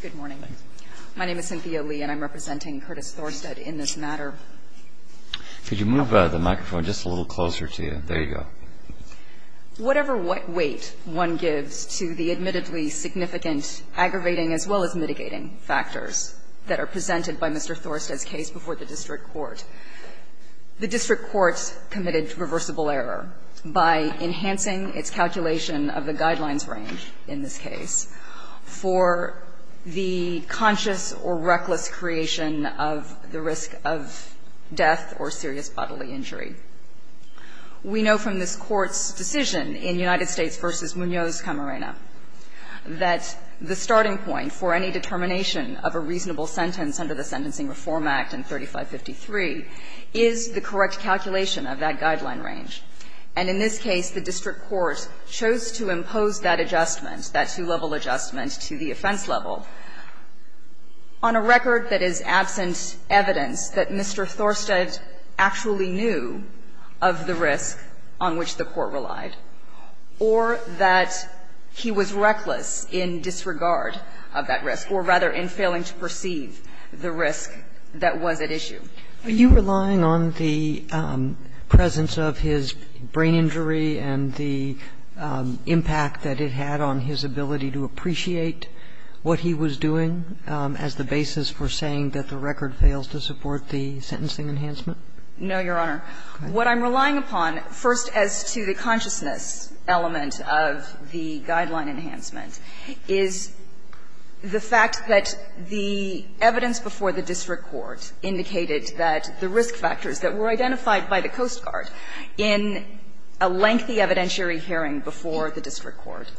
Good morning. My name is Cynthia Lee and I'm representing Kurtis Thorsted in this matter. Could you move the microphone just a little closer to you? There you go. Whatever weight one gives to the admittedly significant aggravating as well as mitigating factors that are presented by Mr. Thorsted's case before the district court, the district court committed reversible error by enhancing its calculation of the guidelines range in this case for the conscious or reckless creation of the risk of death or serious bodily injury. We know from this Court's decision in United States v. Munoz Camarena that the starting point for any determination of a reasonable sentence under the Sentencing Reform Act in 3553 is the correct calculation of that guideline range. And in this case, the district court chose to impose that adjustment, that two-level adjustment, to the offense level on a record that is absent evidence that Mr. Thorsted actually knew of the risk on which the court relied or that he was reckless in disregard of that risk, or rather in failing to perceive the risk that was at issue. Are you relying on the presence of his brain injury and the impact that it had on his ability to appreciate what he was doing as the basis for saying that the record fails to support the sentencing enhancement? No, Your Honor. What I'm relying upon, first, as to the consciousness element of the guideline enhancement, is the fact that the evidence before the district court indicated that the risk factors that were identified by the Coast Guard in a lengthy evidentiary hearing before the district court,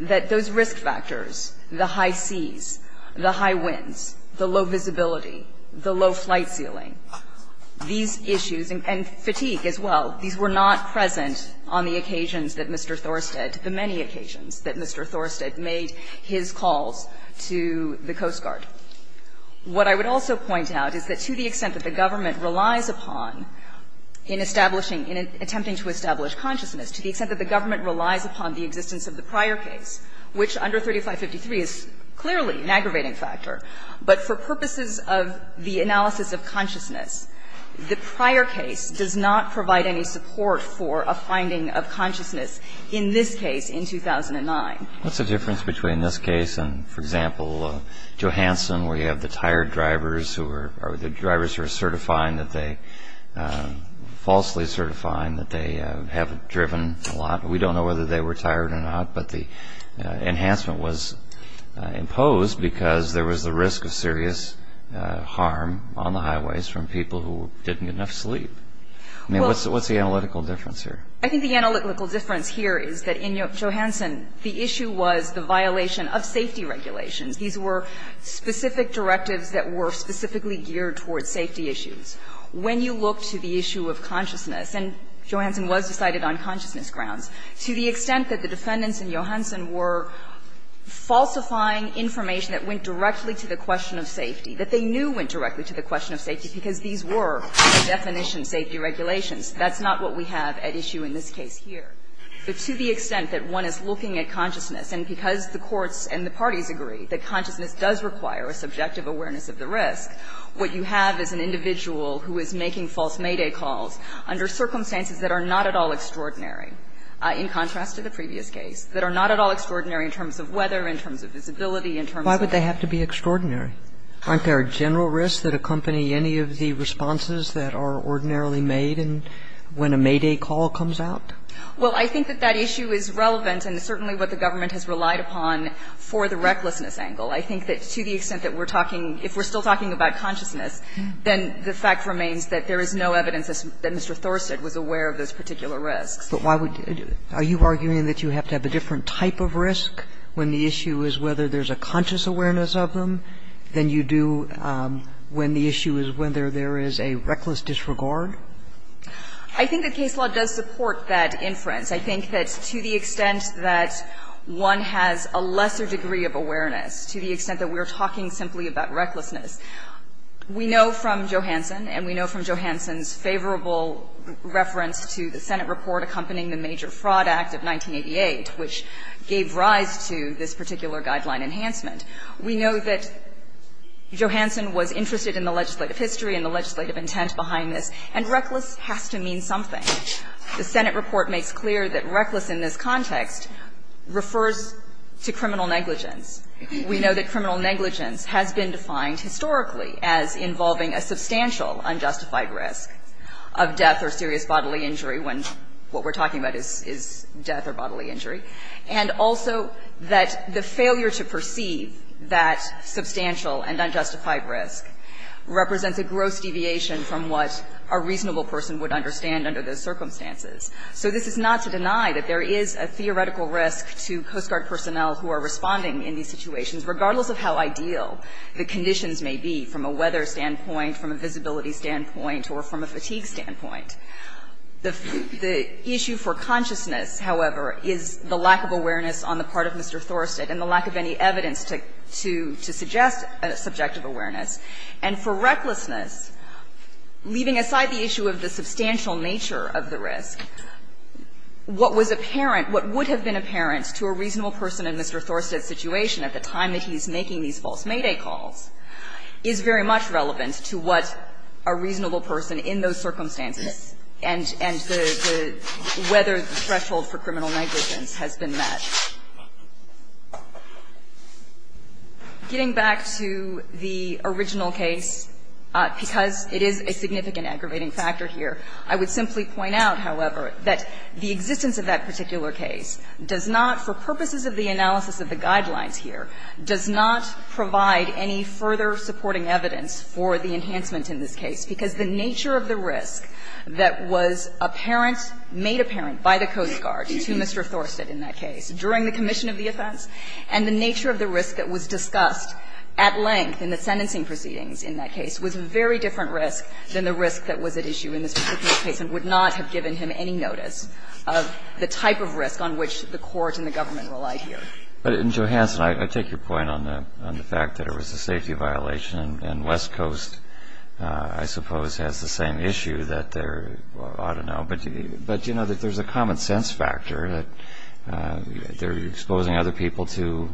that those risk factors, the high seas, the high winds, the low visibility, the low flight ceiling, these issues, and fatigue as well, these were not present on the occasions that Mr. Thorsted, the many occasions, that Mr. Thorsted made his calls to the Coast Guard. What I would also point out is that to the extent that the government relies upon in establishing, in attempting to establish consciousness, to the extent that the government relies upon the existence of the prior case, which under 3553 is clearly an aggravating factor, but for purposes of the analysis of consciousness, the prior case does not provide any support for a finding of consciousness in this case in 2009. What's the difference between this case and, for example, Johansson, where you have the tired drivers who are, the drivers who are certifying that they, falsely certifying that they haven't driven a lot. We don't know whether they were tired or not, but the enhancement was imposed because there was a risk of serious harm on the highways from people who didn't get enough sleep. I mean, what's the analytical difference here? I think the analytical difference here is that in Johansson, the issue was the violation of safety regulations. These were specific directives that were specifically geared towards safety issues. When you look to the issue of consciousness, and Johansson was decided on consciousness grounds, to the extent that the defendants in Johansson were falsifying information that went directly to the question of safety, that they knew went directly to the question of safety because these were the definition safety regulations, that's not what we have at issue in this case here. But to the extent that one is looking at consciousness, and because the courts and the parties agree that consciousness does require a subjective awareness of the risk, what you have is an individual who is making false mayday calls under circumstances that are not at all extraordinary, in contrast to the previous case, that are not at all extraordinary in terms of weather, in terms of visibility, in terms of the risk. Kagan. Why would they have to be extraordinary? Aren't there general risks that accompany any of the responses that are ordinarily made when a mayday call comes out? Well, I think that that issue is relevant and certainly what the government has relied upon for the recklessness angle. I think that to the extent that we're talking, if we're still talking about consciousness, then the fact remains that there is no evidence that Mr. Thorsett was aware of those particular risks. But why would you do it? Are you arguing that you have to have a different type of risk when the issue is whether there's a conscious awareness of them than you do when the issue is whether there is a reckless disregard? I think that case law does support that inference. I think that to the extent that one has a lesser degree of awareness, to the extent that we're talking simply about recklessness, we know from Johansson, and we know from Johansson's favorable reference to the Senate report accompanying the Major Guideline Enhancement, we know that Johansson was interested in the legislative history and the legislative intent behind this, and reckless has to mean something. The Senate report makes clear that reckless in this context refers to criminal negligence. We know that criminal negligence has been defined historically as involving a substantial unjustified risk of death or serious bodily injury when what we're talking about is death or bodily injury. And also that the failure to perceive that substantial and unjustified risk represents a gross deviation from what a reasonable person would understand under those circumstances. So this is not to deny that there is a theoretical risk to Coast Guard personnel who are responding in these situations, regardless of how ideal the conditions may be from a weather standpoint, from a visibility standpoint, or from a fatigue standpoint. The issue for consciousness, however, is the lack of awareness on the part of Mr. Thorstedt and the lack of any evidence to suggest subjective awareness. And for recklessness, leaving aside the issue of the substantial nature of the risk, what was apparent, what would have been apparent to a reasonable person in Mr. Thorstedt's situation at the time that he's making these false mayday calls is very much relevant to what a reasonable person in those circumstances and the weather threshold for criminal negligence has been met. Getting back to the original case, because it is a significant aggravating factor here, I would simply point out, however, that the existence of that particular case does not, for purposes of the analysis of the guidelines here, does not provide any further supporting evidence for the enhancement in this case, because the nature of the risk that was apparent, made apparent by the Coast Guard to Mr. Thorstedt in that case during the commission of the offense and the nature of the risk that was discussed at length in the sentencing proceedings in that case was a very different risk than the risk that was at issue in this particular case and would not have given him any notice of the type of risk on which the court and the government relied here. But, Johansson, I take your point on the fact that it was a safety violation and West Coast, I suppose, has the same issue that there ought to know, but do you know that there's a common sense factor that they're exposing other people to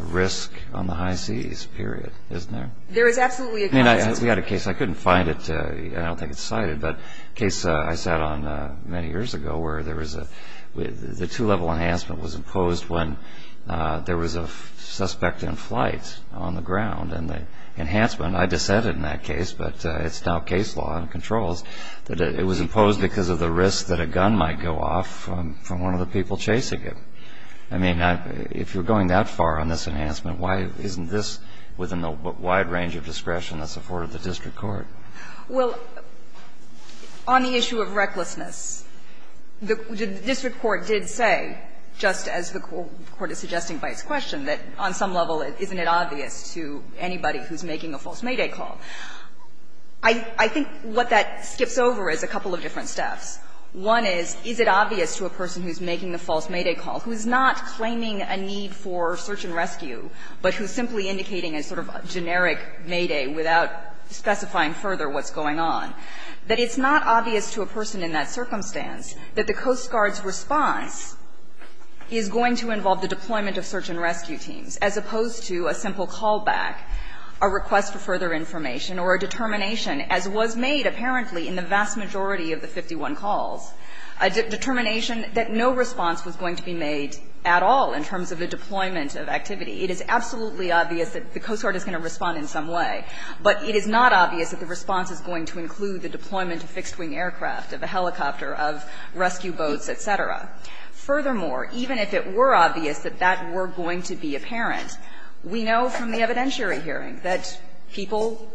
risk on the high seas, period, isn't there? There is absolutely a common sense factor. I mean, we had a case, I couldn't find it, I don't think it's cited, but a case I sat on many years ago where there was a, the two-level enhancement was imposed when there was a suspect in flight on the ground and the enhancement, I dissented in that case, but it's now case law and controls, that it was imposed because of the risk that a gun might go off from one of the people chasing it. I mean, if you're going that far on this enhancement, why isn't this within the wide range of discretion that's afforded the district court? Well, on the issue of recklessness, the district court did say, just as the court is suggesting by its question, that on some level, isn't it obvious to anybody who's making a false mayday call. I think what that skips over is a couple of different steps. One is, is it obvious to a person who's making a false mayday call, who's not claiming a need for search and rescue, but who's simply indicating a sort of generic mayday without specifying further what's going on, that it's not obvious to a person in that circumstance that the Coast Guard's response is going to involve the deployment of search and rescue teams, as opposed to a simple callback, a request for further information, or a determination, as was made apparently in the vast majority of the 51 calls, a determination that no response was going to be made at all in terms of the deployment of activity. It is absolutely obvious that the Coast Guard is going to respond in some way, but it is not obvious that the response is going to include the deployment of fixed-wing aircraft, of a helicopter, of rescue boats, et cetera. Furthermore, even if it were obvious that that were going to be apparent, we know from the evidentiary hearing that people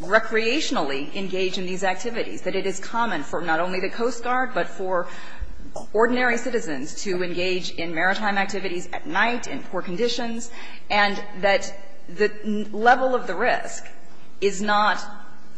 recreationally engage in these activities, that it is common for not only the Coast Guard, but for ordinary citizens to engage in maritime activities at night in poor conditions, and that the level of the risk is not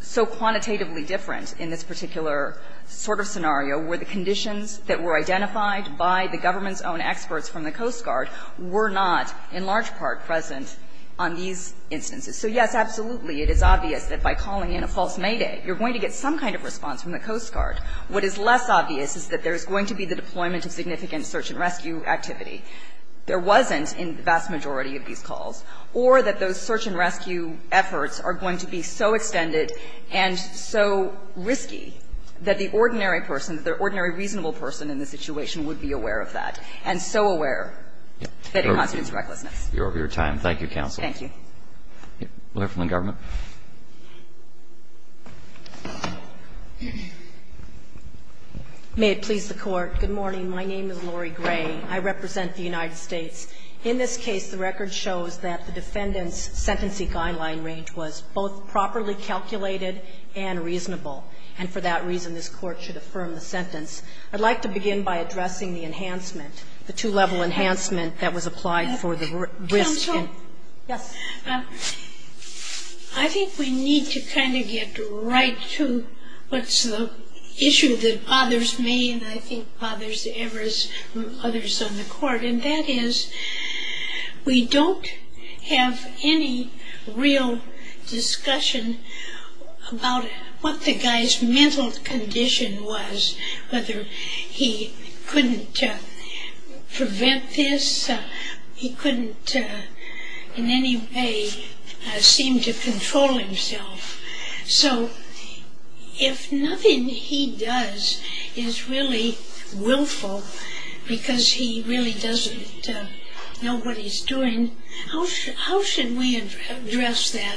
so quantitatively different in this particular sort of scenario, where the conditions that were identified by the government's own experts from the Coast Guard were not in large part present on these instances. So, yes, absolutely, it is obvious that by calling in a false mayday, you're going to get some kind of response from the Coast Guard. What is less obvious is that there's going to be the deployment of significant search-and-rescue activity. There wasn't in the vast majority of these calls, or that those search-and-rescue efforts are going to be so extended and so risky that the ordinary person, the ordinary reasonable person in the situation, would be aware of that, and so aware that it constitutes recklessness. Roberts, you're over your time. Thank you, counsel. Thank you. We'll hear from the government. May it please the Court. Good morning. My name is Lori Gray. I represent the United States. In this case, the record shows that the defendant's sentencing guideline range was both properly calculated and reasonable, and for that reason, this Court should affirm the sentence. I'd like to begin by addressing the enhancement, the two-level enhancement that was applied for the risk. I think we need to kind of get right to what's the issue that bothers me and I think bothers others on the Court, and that is we don't have any real discussion about what the guy's mental condition was, whether he couldn't prevent this, he couldn't in any way seem to control himself, so if nothing he does is really willful because he really doesn't know what he's doing, how should we address that?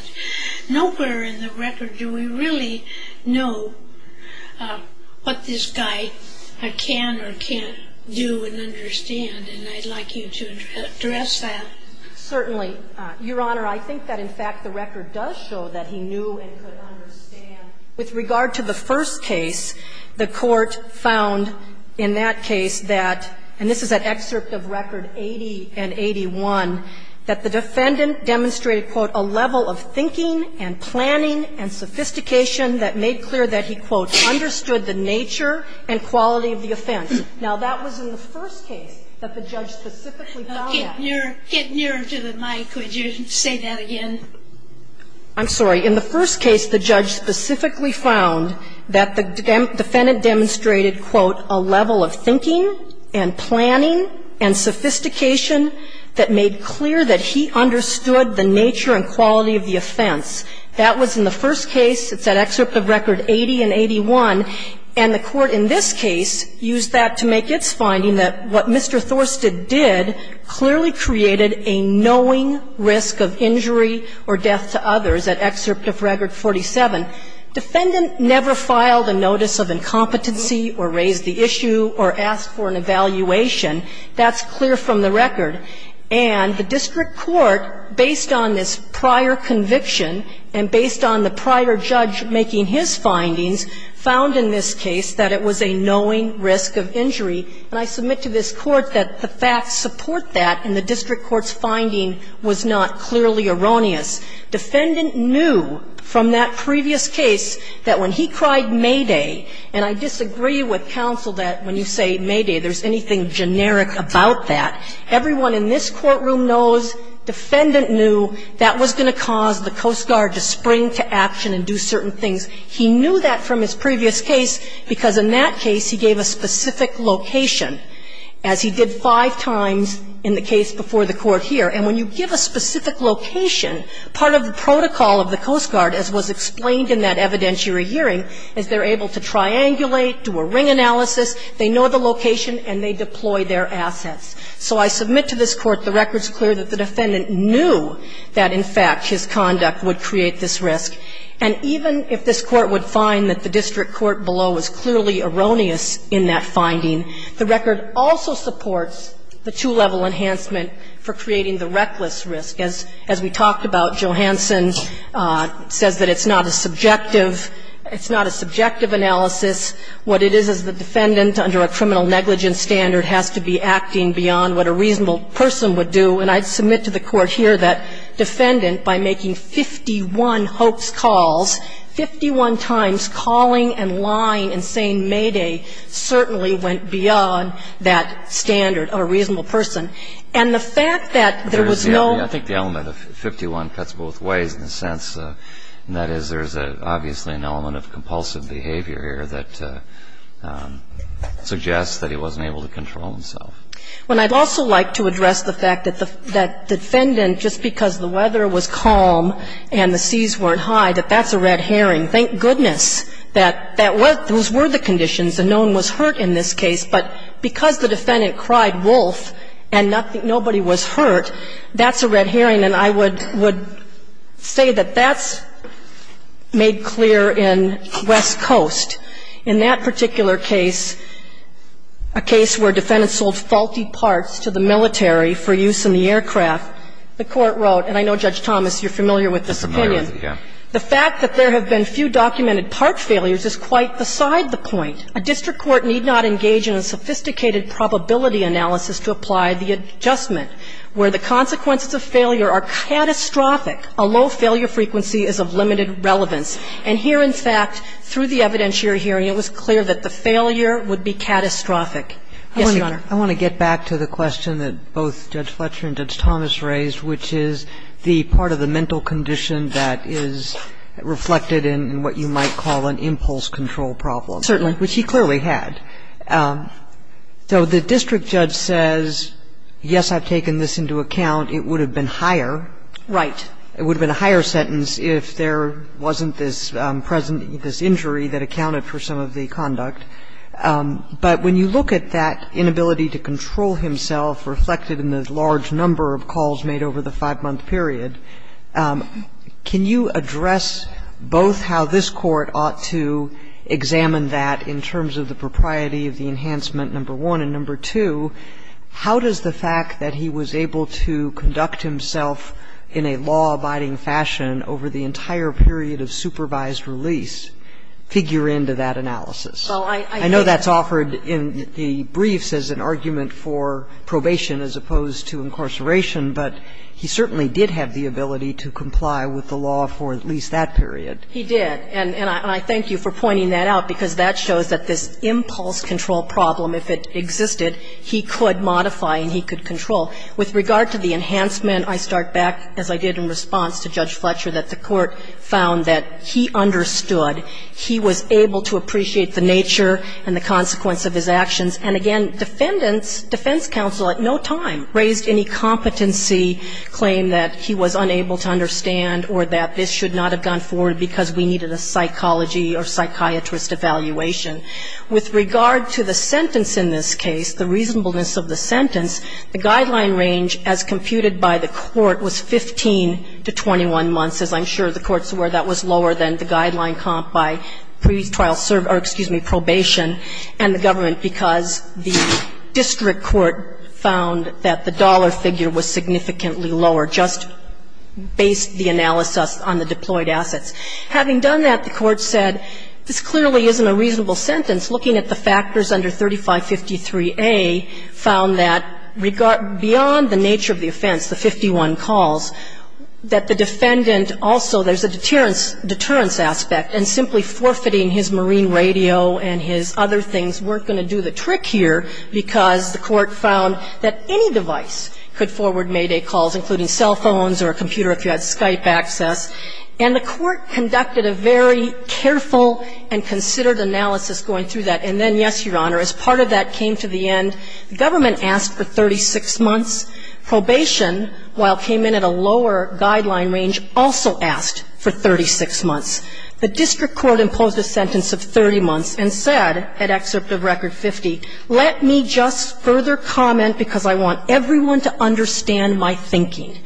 Nowhere in the record do we really know what this guy can or can't do and understand, and I'd like you to address that. Certainly. Your Honor, I think that in fact the record does show that he knew and could understand. With regard to the first case, the Court found in that case that, and this is an excerpt of Record 80 and 81, that the defendant demonstrated, quote, a level of thinking and planning and sophistication that made clear that he, quote, understood the nature and quality of the offense. Now, that was in the first case that the judge specifically found that. Now, get nearer to the mic. Would you say that again? I'm sorry. In the first case, the judge specifically found that the defendant demonstrated, quote, a level of thinking and planning and sophistication that made clear that he understood the nature and quality of the offense. That was in the first case, it's that excerpt of Record 80 and 81, and the Court in this case used that to make its finding that what Mr. Thorsted did clearly created a knowing risk of injury or death to others, that excerpt of Record 47. Defendant never filed a notice of incompetency or raised the issue or asked for an evaluation. That's clear from the record. And the district court, based on this prior conviction and based on the prior judge making his findings, found in this case that it was a knowing risk of injury. And I submit to this Court that the facts support that, and the district court's finding was not clearly erroneous. Defendant knew from that previous case that when he cried Mayday, and I disagree with counsel that when you say Mayday, there's anything generic about that, everyone in this courtroom knows defendant knew that was going to cause the Coast Guard to spring to action and do certain things. He knew that from his previous case, because in that case he gave a specific location, as he did five times in the case before the Court here. And when you give a specific location, part of the protocol of the Coast Guard, as was explained in that evidentiary hearing, is they're able to triangulate, do a ring analysis, they know the location, and they deploy their assets. So I submit to this Court the record's clear that the defendant knew that, in fact, his conduct would create this risk. And even if this Court would find that the district court below was clearly erroneous in that finding, the record also supports the two-level enhancement for creating the reckless risk. As we talked about, Johansson says that it's not a subjective analysis. What it is is the defendant, under a criminal negligence standard, has to be acting beyond what a reasonable person would do. And I submit to the Court here that defendant, by making 51 hoax calls, 51 times calling and lying and saying mayday certainly went beyond that standard of a reasonable person. And the fact that there was no ---- I think the element of 51 cuts both ways in a sense, and that is there's obviously an element of compulsive behavior here that suggests that he wasn't able to control himself. When I'd also like to address the fact that the defendant, just because the weather was calm and the seas weren't high, that that's a red herring. Thank goodness that that was the conditions and no one was hurt in this case. But because the defendant cried wolf and nobody was hurt, that's a red herring. And I would say that that's made clear in West Coast. In that particular case, a case where defendants sold faulty parts to the military for use in the aircraft, the Court wrote, and I know, Judge Thomas, you're familiar with this opinion. The fact that there have been few documented part failures is quite beside the point. A district court need not engage in a sophisticated probability analysis to apply the adjustment, where the consequences of failure are catastrophic. A low failure frequency is of limited relevance. And here, in fact, through the evidentiary hearing, it was clear that the failure would be catastrophic. Yes, Your Honor. I want to get back to the question that both Judge Fletcher and Judge Thomas raised, which is the part of the mental condition that is reflected in what you might call an impulse control problem. Certainly. Which he clearly had. So the district judge says, yes, I've taken this into account. It would have been higher. Right. It would have been a higher sentence if there wasn't this present – this injury that accounted for some of the conduct. But when you look at that inability to control himself reflected in the large number of calls made over the five-month period, can you address both how this Court ought to examine that in terms of the propriety of the enhancement, number one, and number two, how does the fact that he was able to conduct himself in a law-abiding fashion over the entire period of supervised release figure into that analysis? So I think that's – I know that's offered in the briefs as an argument for probation as opposed to incarceration, but he certainly did have the ability to comply with the law for at least that period. He did. And I thank you for pointing that out, because that shows that this impulse control problem, if it existed, he could modify and he could control. With regard to the enhancement, I start back, as I did in response to Judge Fletcher, that the Court found that he understood, he was able to appreciate the nature and the consequence of his actions. And again, defendants – defense counsel at no time raised any competency claim that he was unable to understand or that this should not have gone forward because we needed a psychology or psychiatrist evaluation. With regard to the sentence in this case, the reasonableness of the sentence, the guideline range as computed by the Court was 15 to 21 months, as I'm sure the Court's aware that was lower than the guideline comp by pre-trial – or excuse me, probation – and the government, because the district court found that the dollar figure was significantly lower, just based the analysis on the deployed assets. Having done that, the Court said, this clearly isn't a reasonable sentence. Looking at the factors under 3553A found that beyond the nature of the offense, the 51 calls, that the defendant also – there's a deterrence aspect. And simply forfeiting his marine radio and his other things weren't going to do the trick here because the Court found that any device could forward mayday calls, including cell phones or a computer if you had Skype access. And the Court conducted a very careful and considered analysis going through that. And then, yes, Your Honor, as part of that came to the end, the government asked for 36 months. Probation, while it came in at a lower guideline range, also asked for 36 months. The district court imposed a sentence of 30 months and said, at excerpt of Record 50, let me just further comment because I want everyone to understand my thinking.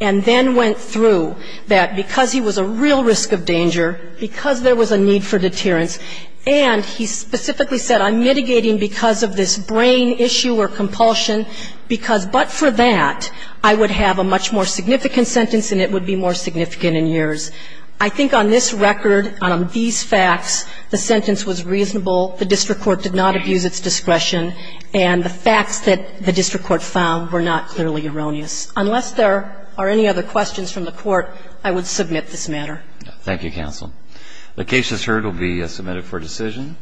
And then went through that because he was a real risk of danger, because there was a need for deterrence, and he specifically said, I'm mitigating because of this brain issue or compulsion, because but for that, I would have a much more significant sentence and it would be more significant in years. I think on this record, on these facts, the sentence was reasonable. The district court did not abuse its discretion. And the facts that the district court found were not clearly erroneous. Unless there are any other questions from the court, I would submit this matter. Thank you, counsel. The case is heard will be submitted for decision.